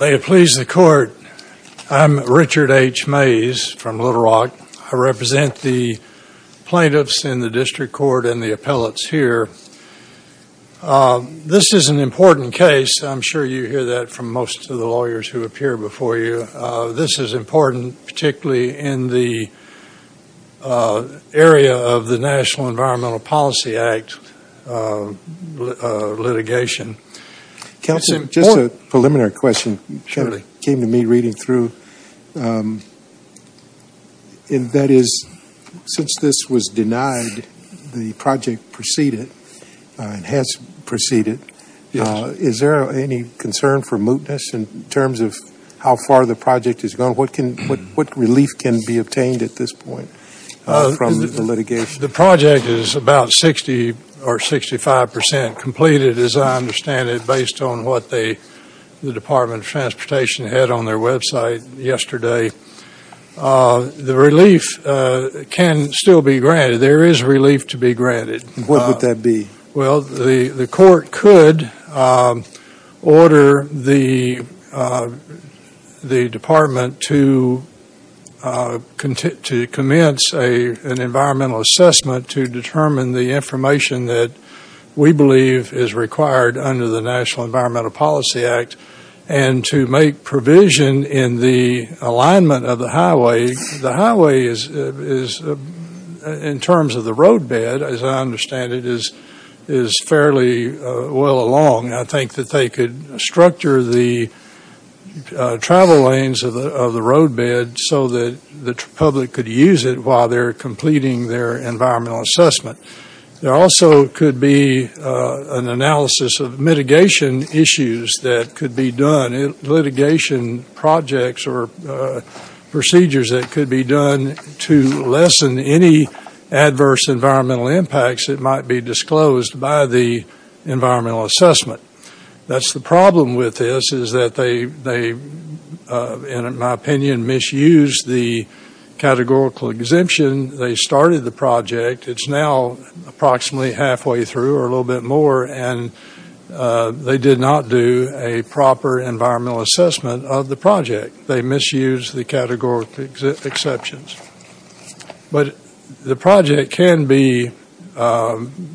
May it please the Court, I'm Richard H. Mays from Little Rock. I represent the plaintiffs in the District Court and the appellates here. This is an important case. I'm sure you hear that from most of the lawyers who appear before you. This is important particularly in the area of the National Environmental Policy Act litigation. Counsel, just a preliminary question came to me reading through. That is, since this was denied, the project preceded, has preceded, is there any concern for mootness in terms of how far the project has gone? What relief can be obtained at this point from the litigation? The project is about 60 or 65 percent completed as I understand it based on what the Department of Transportation had on their website yesterday. The relief can still be granted. There is relief to be granted. What would that be? Well, the Court could order the Department to commence an environmental assessment to determine the information that we believe is required under the National Environmental Policy Act and to make provision in the alignment of the highway. The highway is, in terms of the roadbed, as I understand it, is fairly well along. I think that they could structure the travel lanes of the roadbed so that the public could use it while they're completing their environmental assessment. There also could be an analysis of mitigation issues that could be done, litigation projects or procedures that could be done to lessen any adverse environmental impacts that might be disclosed by the environmental assessment. That's the problem with this is that they, in my opinion, misused the categorical exemption. They started the project. It's now approximately halfway through or a little bit more and they did not do a proper environmental assessment of the project. They misused the categorical exceptions. But the project can be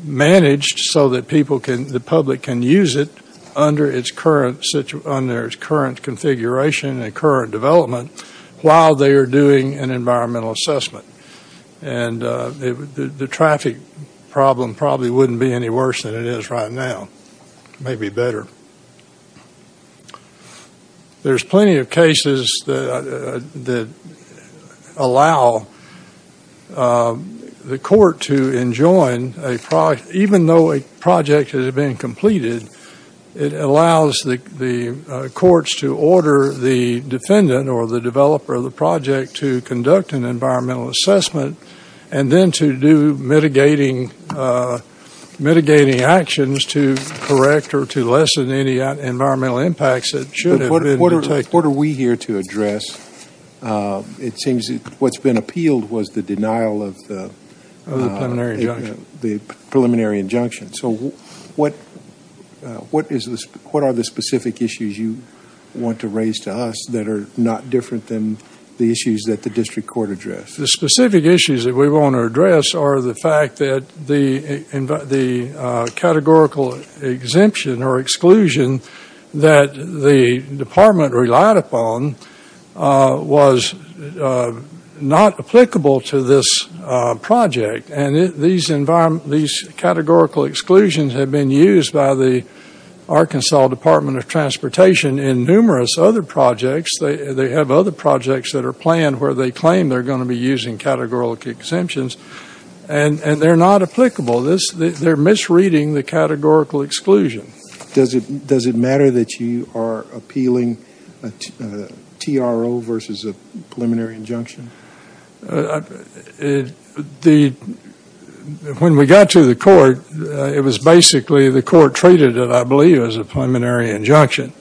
managed so that the public can use it under its current configuration and current development while they are doing an environmental assessment. The traffic problem probably wouldn't be any worse than it is right now, maybe better. There's plenty of cases that allow the court to enjoin a project, even though a project has been completed, it allows the courts to order the defendant or the developer of the mitigating actions to correct or to lessen any environmental impacts that should have been protected. What are we here to address? It seems what's been appealed was the denial of the preliminary injunction. So what are the specific issues you want to raise to us that are not different than the issues that the district court addressed? The specific issues that we want to address are the fact that the categorical exemption or exclusion that the department relied upon was not applicable to this project. These categorical exclusions have been used by the Arkansas Department of Transportation in numerous other projects. They have other projects that are planned where they claim they're going to be using categorical exemptions, and they're not applicable. They're misreading the categorical exclusion. Does it matter that you are appealing a TRO versus a preliminary injunction? When we got to the court, it was basically the court treated it, I believe, as a preliminary injunction.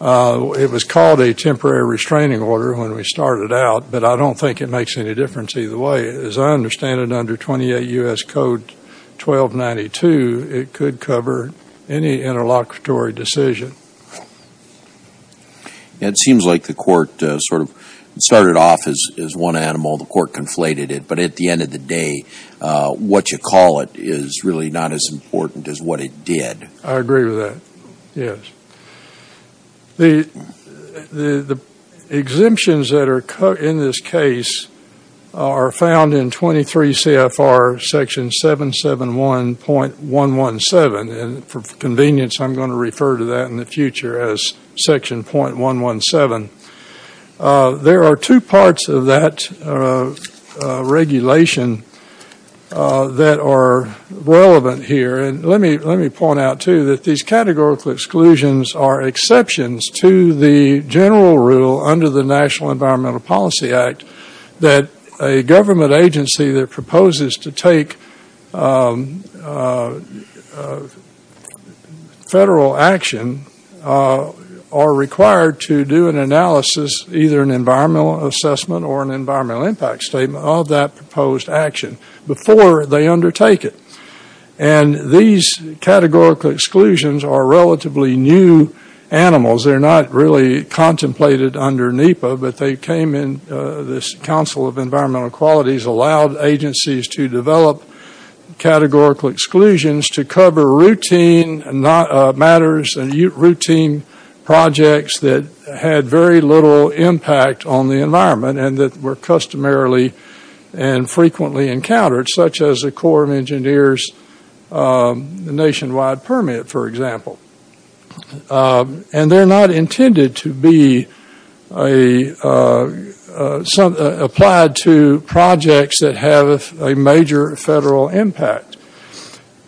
It was called a temporary restraining order when we started out, but I don't think it makes any difference either way. As I understand it, under 28 U.S. Code 1292, it could cover any interlocutory decision. It seems like the court sort of started off as one animal. The court conflated it, but at the end of the day, what you call it is really not as important as what it did. I agree with that. The exemptions that are in this case are found in 23 CFR section 771.117. For convenience, I'm going to refer to that in the future as section .117. There are two things I want to point out, too, that these categorical exclusions are exceptions to the general rule under the National Environmental Policy Act that a government agency that proposes to take federal action are required to do an analysis, either an environmental assessment or an environmental impact statement, of that proposed action before they undertake it. And these categorical exclusions are relatively new animals. They're not really contemplated under NEPA, but they came in this Council of Environmental Qualities, allowed agencies to develop categorical exclusions to cover routine matters and routine projects that had very little impact on the environment and that were customarily and frequently encountered, such as the Corps of Engineers nationwide permit, for example. And they're not intended to be applied to projects that have a major federal impact.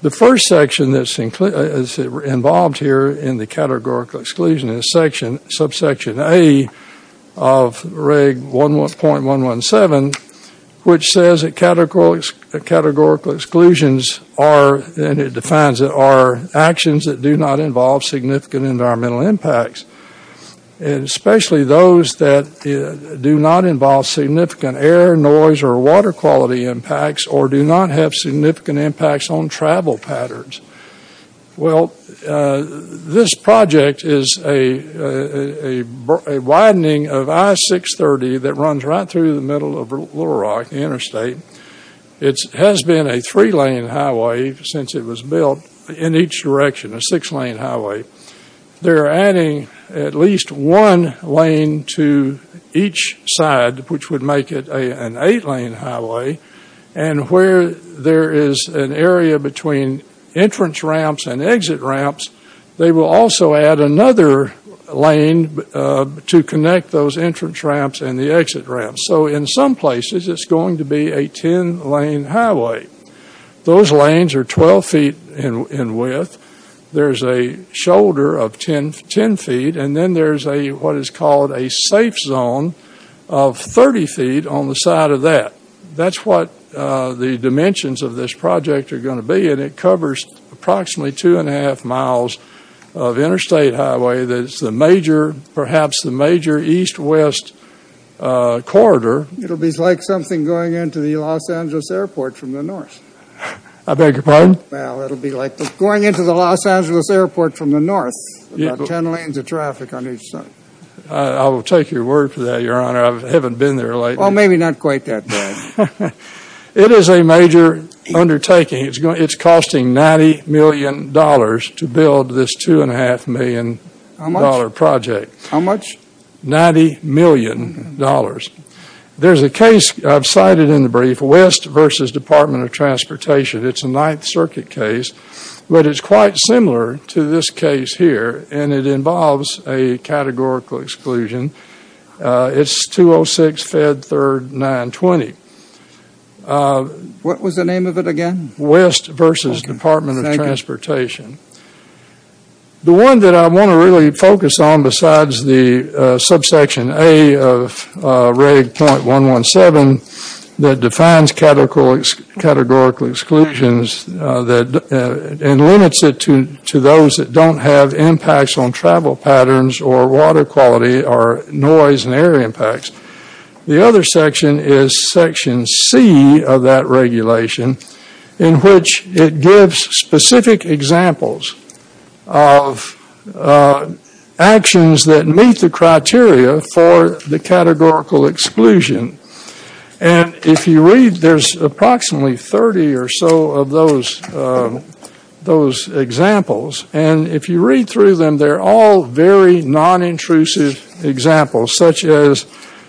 The first section that's involved here in the categorical exclusion is subsection A of reg.117, which says that categorical exclusions are, and it defines it, are actions that do not involve significant environmental impacts, and especially those that do not involve significant air, noise, or water quality impacts or do not have significant impacts on travel patterns. Well, this project is a widening of I-630 that runs right through the middle of Little Rock Interstate. It has been a three-lane highway since it was built in each direction, a six-lane highway. They're adding at least one lane to each side, which would make it an eight-lane highway. And where there is an area between entrance ramps and exit ramps, they will also add another lane to connect those entrance ramps and the exit ramps. So in some places, it's going to be a 10-lane highway. Those lanes are 12 feet in width. There's a shoulder of 10 feet, and then there's what is called a safe zone of 30 feet on the side of that. That's what the dimensions of this project are going to be, and it covers approximately two-and-a-half miles of interstate highway that's the major, perhaps the major east-west corridor. It'll be like something going into the Los Angeles airport from the north. I beg your pardon? Well, it'll be like going into the Los Angeles airport from the north, about 10 lanes of traffic on each side. I will take your word for that, Your Honor. I haven't been there lately. Well, maybe not quite that bad. It is a major undertaking. It's costing $90 million to build this $2.5 million project. How much? $90 million. There's a case I've cited in the brief, West v. Department of Transportation. It's a Ninth Circuit case, but it's quite similar to this case here, and it involves a categorical exclusion. It's 206 Fed 3rd 920. What was the name of it again? West v. Department of Transportation. The one that I want to really focus on besides the subsection A of Reg.117 that defines categorical exclusions and limits it to those that don't have impacts on travel patterns or water quality or noise and air impacts, the other section is Section C of that regulation in which it gives specific examples of actions that meet the criteria for the categorical exclusion. If you read, there's approximately 30 or so of those examples, and if you read through them, they're all very non-intrusive examples such as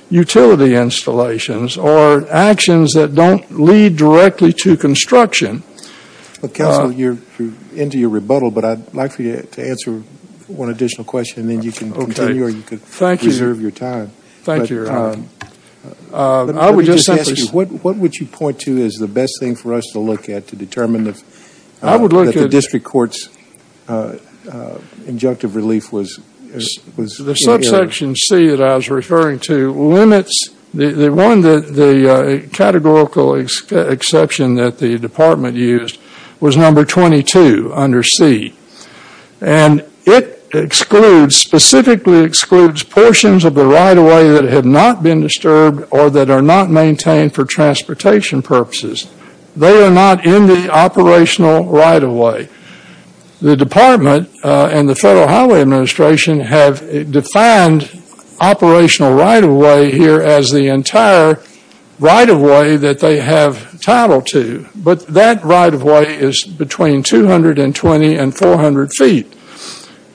utility installations or actions that don't lead directly to construction. Counsel, you're into your rebuttal, but I'd like for you to answer one additional question, and then you can continue or you can reserve your time. Thank you, Your Honor. Let me just ask you, what would you point to as the best thing for us to look at to determine that the district court's injunctive relief was in error? The subsection C that I was referring to limits the one that the categorical exception that the department used was number 22 under C, and it excludes, specifically excludes portions of the right-of-way that have not been disturbed or that are not maintained for transportation purposes. They are not in the operational right-of-way. The department and the Federal Highway Administration have defined operational right-of-way here as the entire right-of-way that they have title to, but that right-of-way is between 220 and 400 feet.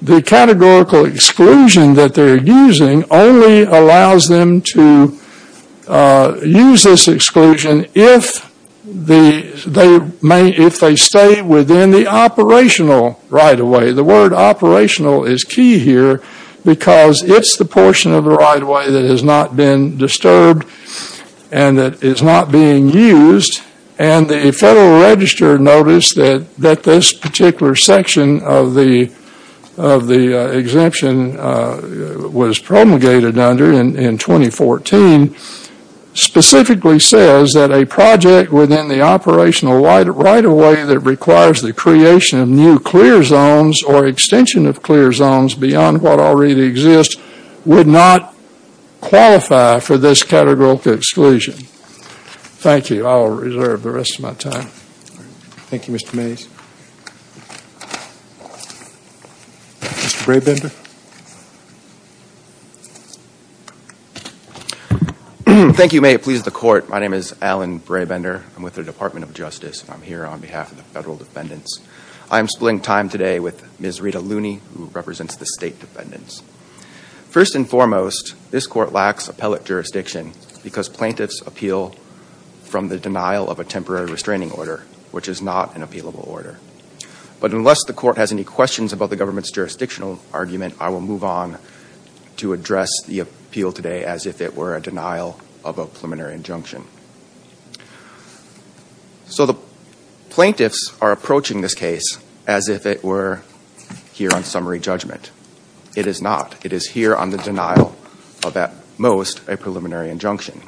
The categorical exclusion that they're using only allows them to use this exclusion if they stay within the operational right-of-way. The word operational is key here because it's the portion of the right-of-way that has not been disturbed and that is not being used, and the Federal Register noticed that this particular section of the exemption was promulgated under in 2014 specifically says that a project within the operational right-of-way that requires the creation of new clear zones or extension of clear zones beyond what already exists would not qualify for this categorical exclusion. Thank you. I'll reserve the rest of my time. Thank you, Mr. Mays. Mr. Braybender? Thank you, May. It pleases the Court. My name is Alan Braybender. I'm with the Department of Justice and I'm here on behalf of the Federal Defendants. I'm splitting time today with Ms. Rita Looney, who represents the State Defendants. First and foremost, this Court lacks appellate jurisdiction because plaintiffs appeal from the denial of a temporary restraining order, which is not an appealable order. But unless the Court has any questions about the government's jurisdictional argument, I will move on to address the appeal today as if it were a denial of a preliminary injunction. So the plaintiffs are approaching this case as if it were here on summary judgment. It is not. It is here on the denial of, at most, a preliminary injunction.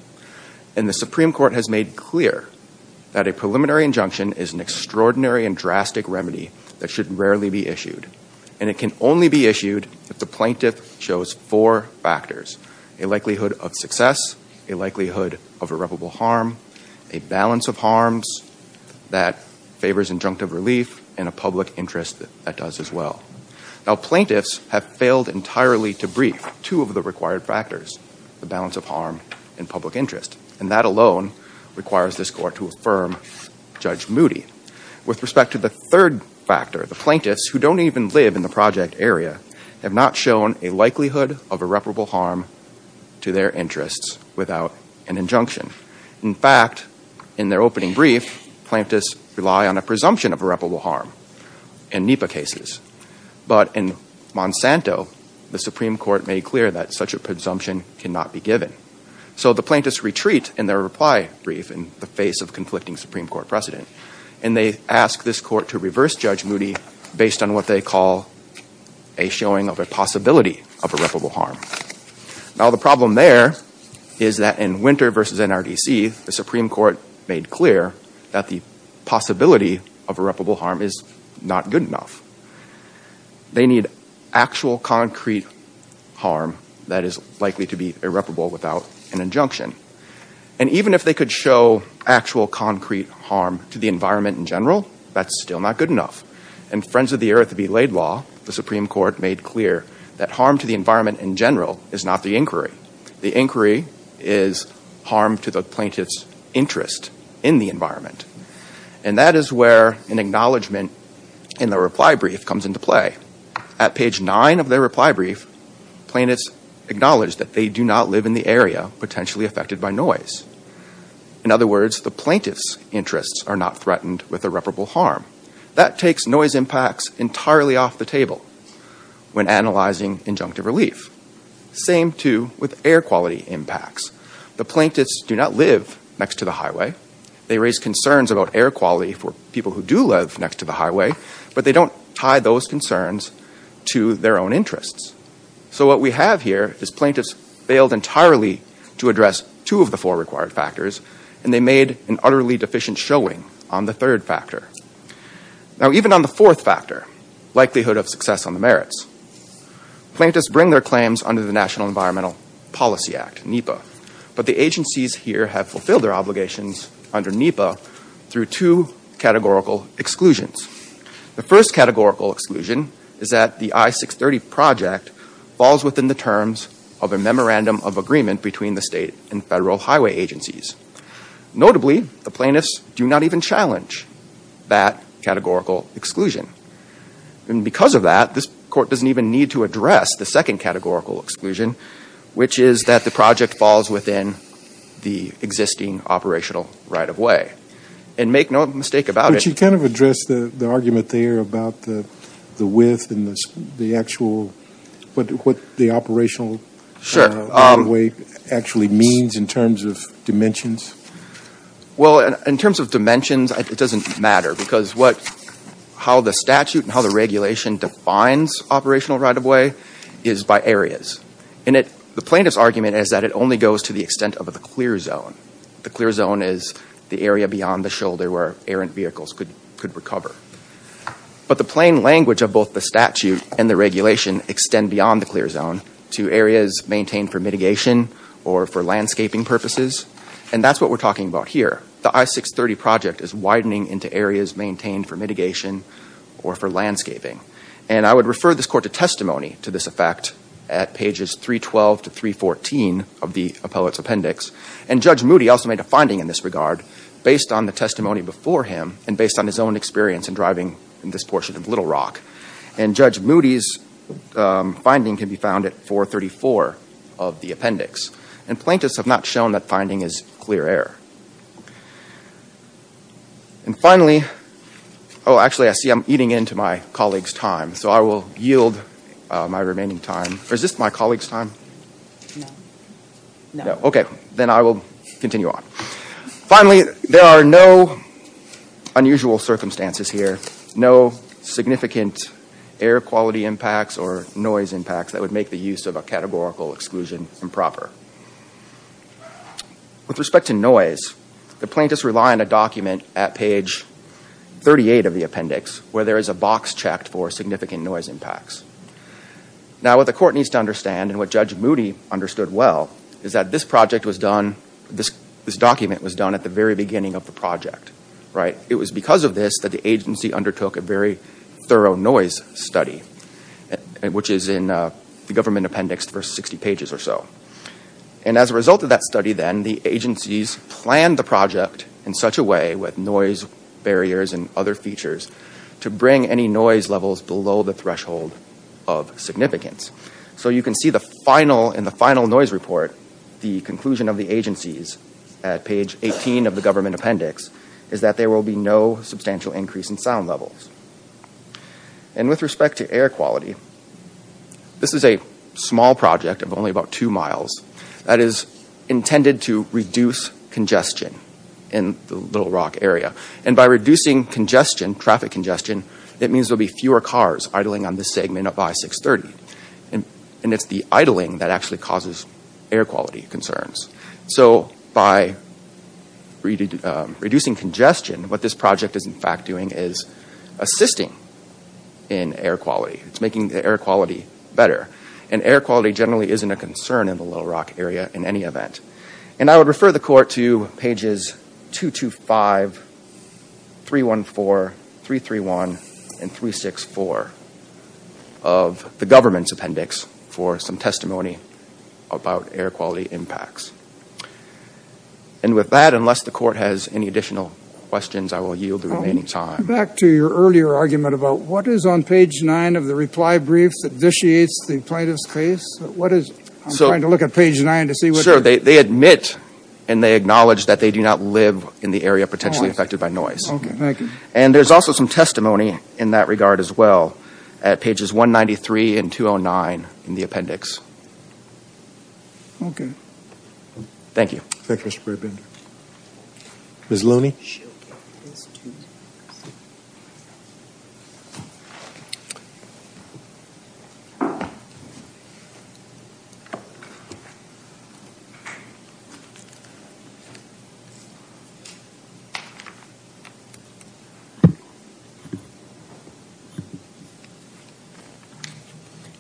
And the Supreme Court has made clear that a preliminary injunction is an extraordinary and drastic remedy that should rarely be issued. And it can only be issued if the plaintiff shows four factors, a likelihood of success, a likelihood of irreparable harm, a balance of harms that favors injunctive relief, and a public interest that does as well. Now, plaintiffs have failed entirely to brief two of the required factors, the balance of harm and public interest. And that alone requires this Court to affirm Judge Moody. With respect to the third factor, the plaintiffs, who don't even live in the project area, have not shown a likelihood of irreparable harm to their interests without an injunction. In fact, in their opening brief, plaintiffs rely on a presumption of irreparable harm in NEPA cases. But in Monsanto, the Supreme Court made clear that such a presumption cannot be given. So the plaintiffs retreat in their reply brief in the face of conflicting Supreme Court precedent. And they ask this Court to reverse Judge Moody based on what they call a showing of a possibility of irreparable harm. Now, the problem there is that in Winter versus NRDC, the Supreme Court made clear that the possibility of irreparable harm is not good enough. They need actual concrete harm that is likely to be irreparable without an injunction. And even if they could show actual concrete harm to the environment in general, that's still not good enough. And Friends of the Earth v. Laidlaw, the Supreme Court made clear that harm to the environment in general is not the inquiry. The inquiry is harm to the plaintiff's interest in the environment. And that is where an acknowledgment in the reply brief comes into play. At page 9 of their reply brief, plaintiffs acknowledge that they do not live in the area potentially affected by noise. In other words, the plaintiff's interests are not threatened with irreparable harm. That takes noise impacts entirely off the table when analyzing injunctive relief. Same too with air quality impacts. The plaintiffs do not live next to the highway. They raise concerns about air quality for people who do live next to the highway, but they don't tie those concerns to their own interests. So what we have here is plaintiffs failed entirely to address two of the four required factors, and they made an utterly deficient showing on the third factor. Now, even on the fourth factor, likelihood of success on the merits, plaintiffs bring their claims under the National Environmental Policy Act, NEPA. But the agencies here have fulfilled their obligations under NEPA through two categorical exclusions. The first categorical exclusion is that the I-630 project falls within the terms of a memorandum of agreement between the state and federal highway agencies. Notably, the plaintiffs do not even challenge that categorical exclusion. And because of that, this court doesn't even need to address the second categorical exclusion, which is that the project falls within the existing operational right-of-way. And make no mistake about it- But you kind of addressed the argument there about the width and the actual, what the operational right-of-way actually means in terms of dimensions. Well, in terms of dimensions, it doesn't matter. Because how the statute and how the regulation defines operational right-of-way is by areas. The plaintiff's argument is that it only goes to the extent of the clear zone. The clear zone is the area beyond the shoulder where errant vehicles could recover. But the plain language of both the statute and the regulation extend beyond the clear zone to areas maintained for mitigation or for landscaping purposes. And that's what we're talking about here. The I-630 project is widening into areas maintained for mitigation or for landscaping. And I would refer this court to testimony to this effect at pages 312 to 314 of the appellate's appendix. And Judge Moody also made a finding in this regard based on the testimony before him and based on his own experience in driving in this portion of Little Rock. And Judge Moody's finding can be found at 434 of the appendix. And plaintiffs have not shown that finding is clear error. And finally, oh, actually, I see I'm eating into my colleague's time. So I will yield my remaining time. Or is this my colleague's time? No. No. Okay. Then I will continue on. Finally, there are no unusual circumstances here. No significant air quality impacts or noise impacts that would make the use of a categorical exclusion improper. With respect to noise, the plaintiffs rely on a document at page 38 of the appendix where there is a box checked for significant noise impacts. Now, what the court needs to understand and what Judge Moody understood well is that this project was done, this document was done at the very beginning of the project, right? It was because of this that the agency undertook a very thorough noise study, which is in the government appendix, the first 60 pages or so. And as a result of that study, then, the agencies planned the project in such a way with noise barriers and other features to bring any noise levels below the threshold of significance. So you can see in the final noise report, the conclusion of the agencies at page 18 of the government appendix is that there will be no substantial increase in sound levels. And with respect to air quality, this is a small project of only about two miles that is intended to reduce congestion in the Little Rock area. And by reducing congestion, traffic congestion, it means there will be fewer cars idling on this segment up by 630, and it's the idling that actually causes air quality concerns. So by reducing congestion, what this project is in fact doing is assisting in air quality. It's making the air quality better. And air quality generally isn't a concern in the Little Rock area in any event. And I would refer the court to pages 225, 314, 331, and 364 of the government's appendix for some testimony about air quality impacts. And with that, unless the court has any additional questions, I will yield the remaining time. Back to your earlier argument about what is on page nine of the reply briefs that initiates the plaintiff's case? What is it? I'm trying to look at page nine to see what... Sure, they admit and they acknowledge that they do not live in the area potentially affected by noise. Okay, thank you. And there's also some testimony in that regard as well at pages 193 and 209 in the appendix. Okay. Thank you. Thank you, Mr. Bradburn. Ms. Looney?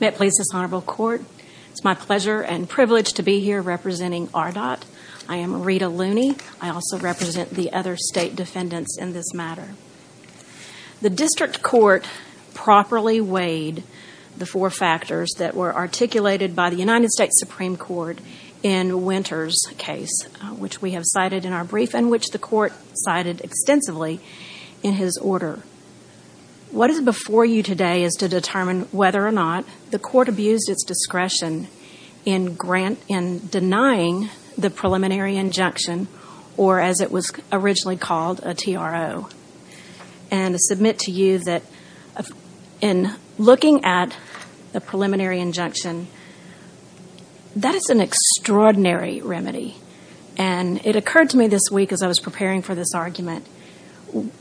May it please this honorable court? It's my pleasure and privilege to be here representing RDOT. I am Rita Looney. I also represent the other state defendants in this matter. The district court properly weighed the four factors that were articulated by the United States Supreme Court in Winter's case, which we have cited in our brief and which the court cited extensively in his order. What is before you today is to determine whether or not the court abused its discretion in denying the preliminary injunction, or as it was originally called, a TRO. And I submit to you that in looking at the preliminary injunction, that is an extraordinary remedy. And it occurred to me this week as I was preparing for this argument,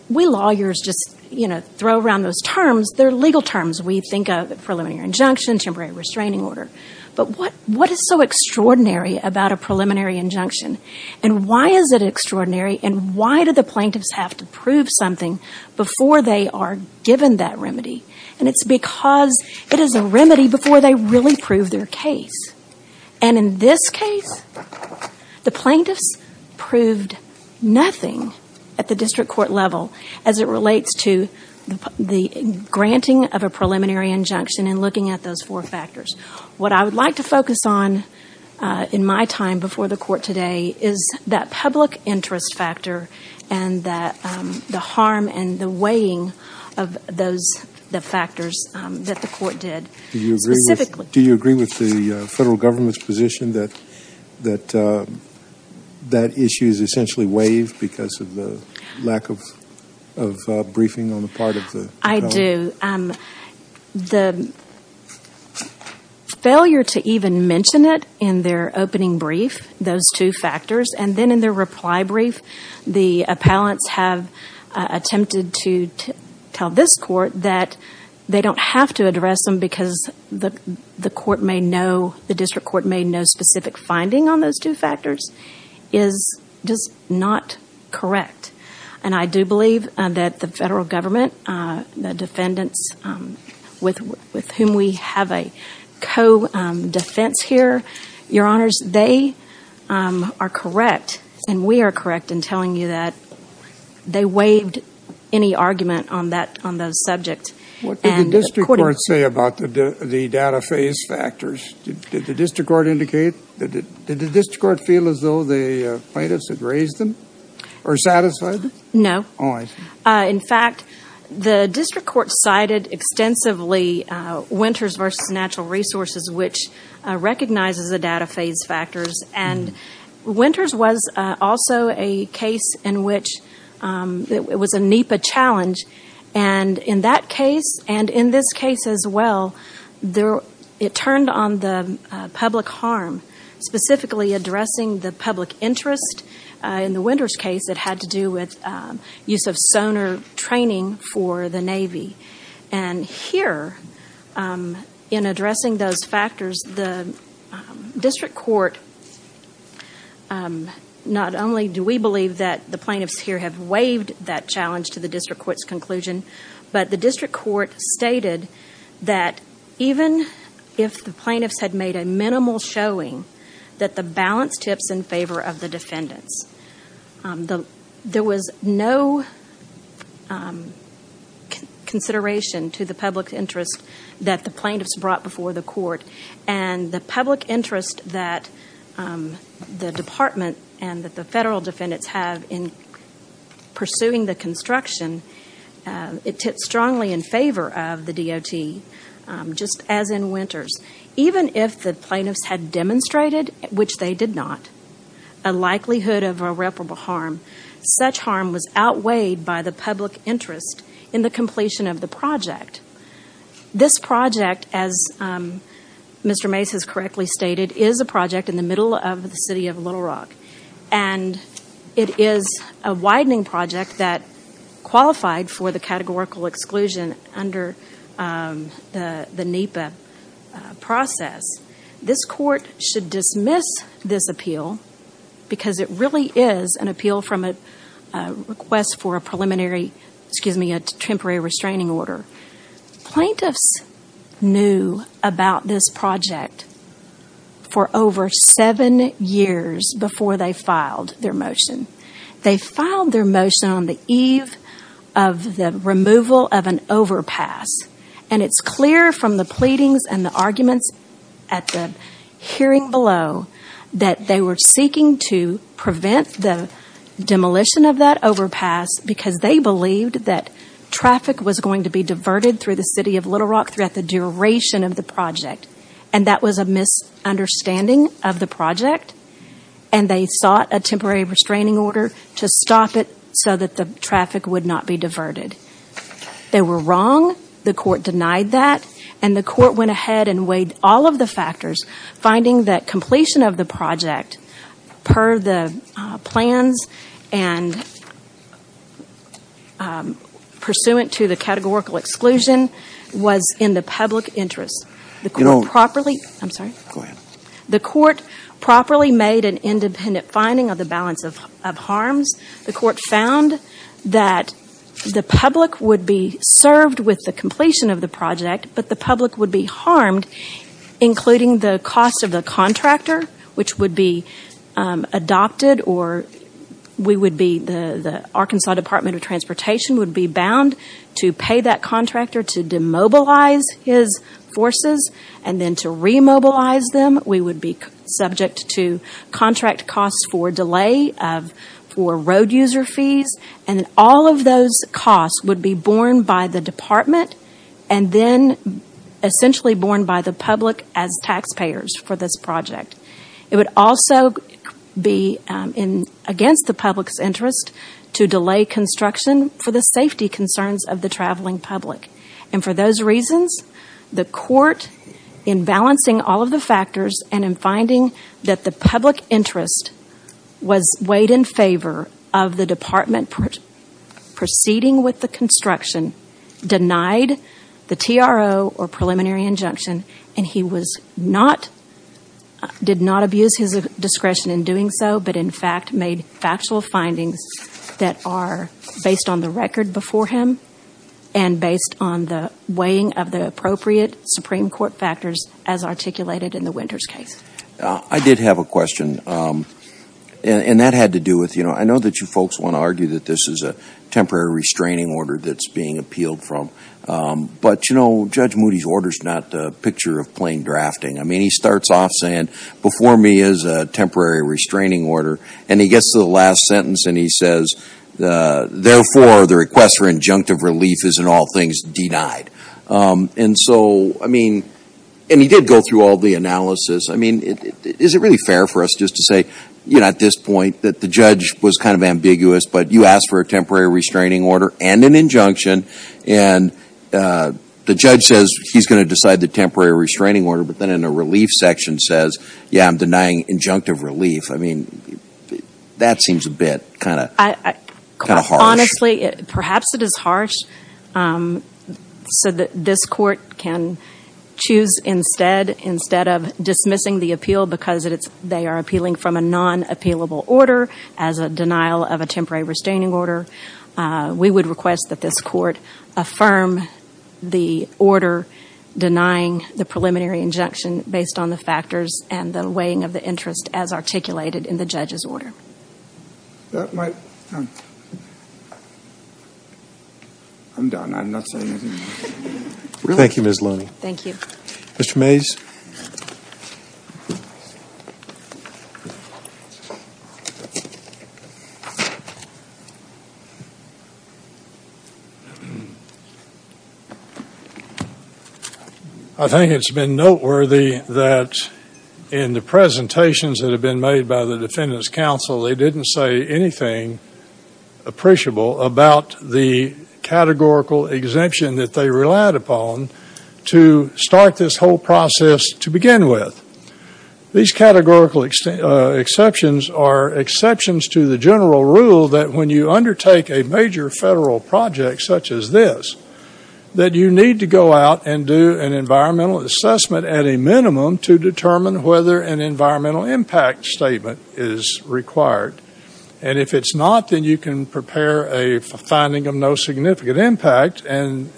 we lawyers just, you know, throw around those terms. They're legal terms. We think of a preliminary injunction, temporary restraining order. But what is so extraordinary about a preliminary injunction? And why is it extraordinary? And why do the plaintiffs have to prove something before they are given that remedy? And it's because it is a remedy before they really prove their case. And in this case, the plaintiffs proved nothing at the district court level as it relates to the granting of a preliminary injunction and looking at those four factors. What I would like to focus on in my time before the court today is that public interest factor and the harm and the weighing of the factors that the court did. Do you agree with the federal government's position that that issue is essentially waived because of the lack of briefing on the part of the appellant? I do. The failure to even mention it in their opening brief, those two factors, and then in their reply brief, the appellants have attempted to tell this court that they don't have to the district court may know specific finding on those two factors is just not correct. And I do believe that the federal government, the defendants with whom we have a co-defense here, your honors, they are correct and we are correct in telling you that they waived any argument on that subject. What did the district court say about the data phase factors? Did the district court feel as though the plaintiffs had raised them or satisfied? No. In fact, the district court cited extensively Winters versus Natural Resources, which recognizes the data phase factors. And Winters was also a case in which it was a NEPA challenge. And in that case, and in this case as well, it turned on the public harm, specifically addressing the public interest. In the Winters case, it had to do with use of sonar training for the Navy. And here, in addressing those factors, the district court, not only do we believe that the plaintiffs here have waived that challenge to the district court's conclusion, but the district court stated that even if the plaintiffs had made a minimal showing, that the balance tips in favor of the defendants. There was no consideration to the public interest that the plaintiffs brought before the court. And the public interest that the department and that the federal defendants have in pursuing the construction, it tips strongly in favor of the DOT, just as in Winters. Even if the plaintiffs had demonstrated, which they did not, a likelihood of irreparable harm, such harm was outweighed by the public interest in the completion of the project. This project, as Mr. Mace has correctly stated, is a project in the middle of the city of Little Rock. And it is a widening project that qualified for the categorical exclusion under the NEPA process. This court should dismiss this appeal because it really is an appeal from a request for a preliminary, excuse me, a temporary restraining order. Plaintiffs knew about this project for over seven years before they filed their motion. They filed their motion on the eve of the removal of an overpass. And it's clear from the pleadings and the arguments at the hearing below that they were seeking to prevent the demolition of that overpass because they believed that traffic was going to be diverted through the city of Little Rock throughout the duration of the project. And that was a misunderstanding of the project. And they sought a temporary restraining order to stop it so that the traffic would not be diverted. They were wrong. The court denied that. And the court went ahead and weighed all of the factors, finding that completion of the categorical exclusion was in the public interest. The court properly made an independent finding of the balance of harms. The court found that the public would be served with the completion of the project, but the public would be harmed, including the cost of the contractor, which would be adopted or the Arkansas Department of Transportation would be bound to pay that contractor to demobilize his forces and then to remobilize them. We would be subject to contract costs for delay for road user fees. And all of those costs would be borne by the department and then essentially borne by the public as taxpayers for this project. It would also be against the public's interest to delay construction for the safety concerns of the traveling public. And for those reasons, the court, in balancing all of the factors and in finding that the public interest was weighed in favor of the department proceeding with the construction, denied the TRO or preliminary injunction, and he did not abuse his discretion in doing so, but in fact made factual findings that are based on the record before him and based on the weighing of the appropriate Supreme Court factors as articulated in the Winters case. I did have a question, and that had to do with, you know, I know that you folks want to argue that this is a temporary restraining order that's being appealed from, but, you know, Judge Moody's order is not a picture of plain drafting. I mean, he starts off saying, before me is a temporary restraining order, and he gets to the last sentence and he says, therefore, the request for injunctive relief is in all things denied. And so, I mean, and he did go through all the analysis. I mean, is it really fair for us just to say, you know, at this point that the judge was kind of ambiguous, but you asked for a temporary restraining order and an injunction, and the judge says he's going to decide the temporary restraining order, but then in the relief section says, yeah, I'm denying injunctive relief. I mean, that seems a bit kind of harsh. Honestly, perhaps it is harsh so that this Court can choose instead, instead of dismissing the appeal because they are appealing from a non-appealable order as a denial of a temporary restraining order. We would request that this Court affirm the order denying the preliminary injunction based on the factors and the weighing of the interest as articulated in the judge's order. I'm done, I'm not saying anything more. Thank you, Ms. Looney. Thank you. Mr. Mays. I think it's been noteworthy that in the presentations that have been made by the Defendant's Counsel, they didn't say anything appreciable about the categorical exemption that they relied upon to start this whole process to begin with. These categorical exceptions are exceptions to the general rule that when you undertake a major federal project such as this, that you need to go out and do an environmental assessment at a minimum to determine whether an environmental impact statement is required. And if it's not, then you can prepare a finding of no significant impact and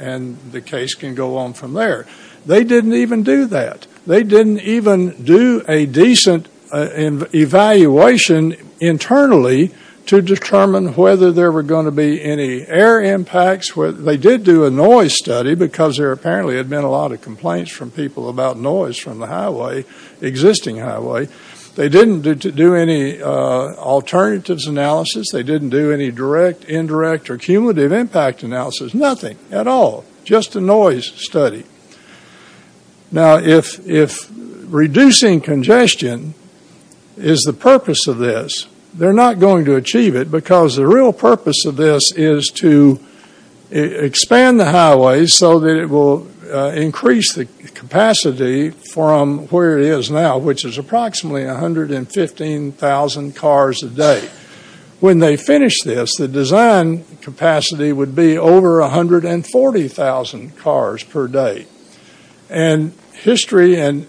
the case can go on from there. They didn't even do that. They didn't even do a decent evaluation internally to determine whether there were going to be any air impacts. They did do a noise study because there apparently had been a lot of complaints from people about noise from the highway, existing highway. They didn't do any alternatives analysis. They didn't do any direct, indirect, or cumulative impact analysis, nothing at all. Just a noise study. Now if reducing congestion is the purpose of this, they're not going to achieve it because the real purpose of this is to expand the highway so that it will increase the capacity from where it is now, which is approximately 115,000 cars a day. When they finish this, the design capacity would be over 140,000 cars per day. And history and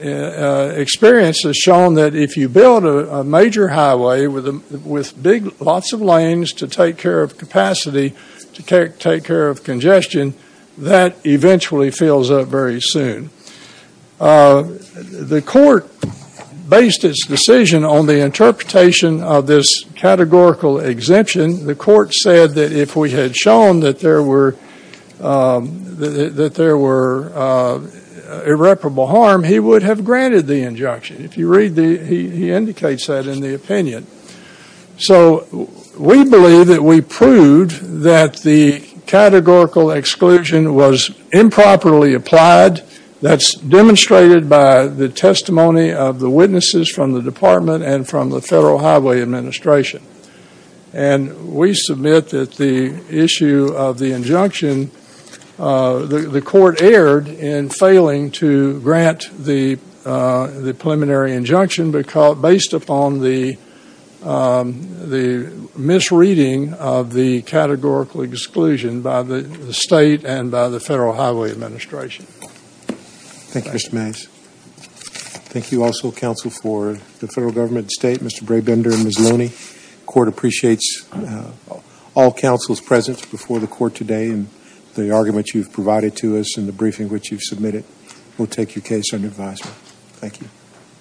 experience has shown that if you build a major highway with big, lots of lanes to take care of capacity, to take care of congestion, that eventually fills up very soon. The court based its decision on the interpretation of this categorical exemption. The court said that if we had shown that there were irreparable harm, he would have granted the injunction. If you read the, he indicates that in the opinion. So we believe that we proved that the categorical exclusion was improperly applied. That's demonstrated by the testimony of the witnesses from the department and from the Federal Highway Administration. And we submit that the issue of the injunction, the court erred in failing to grant the preliminary injunction based upon the misreading of the categorical exclusion by the state and by the Federal Highway Administration. Thank you, Mr. Mays. Thank you also, counsel, for the federal government, the state, Mr. Brabender and Ms. Looney. Court appreciates all counsel's presence before the court today and the argument you've provided to us and the briefing which you've submitted. We'll take your case under advisement. Thank you.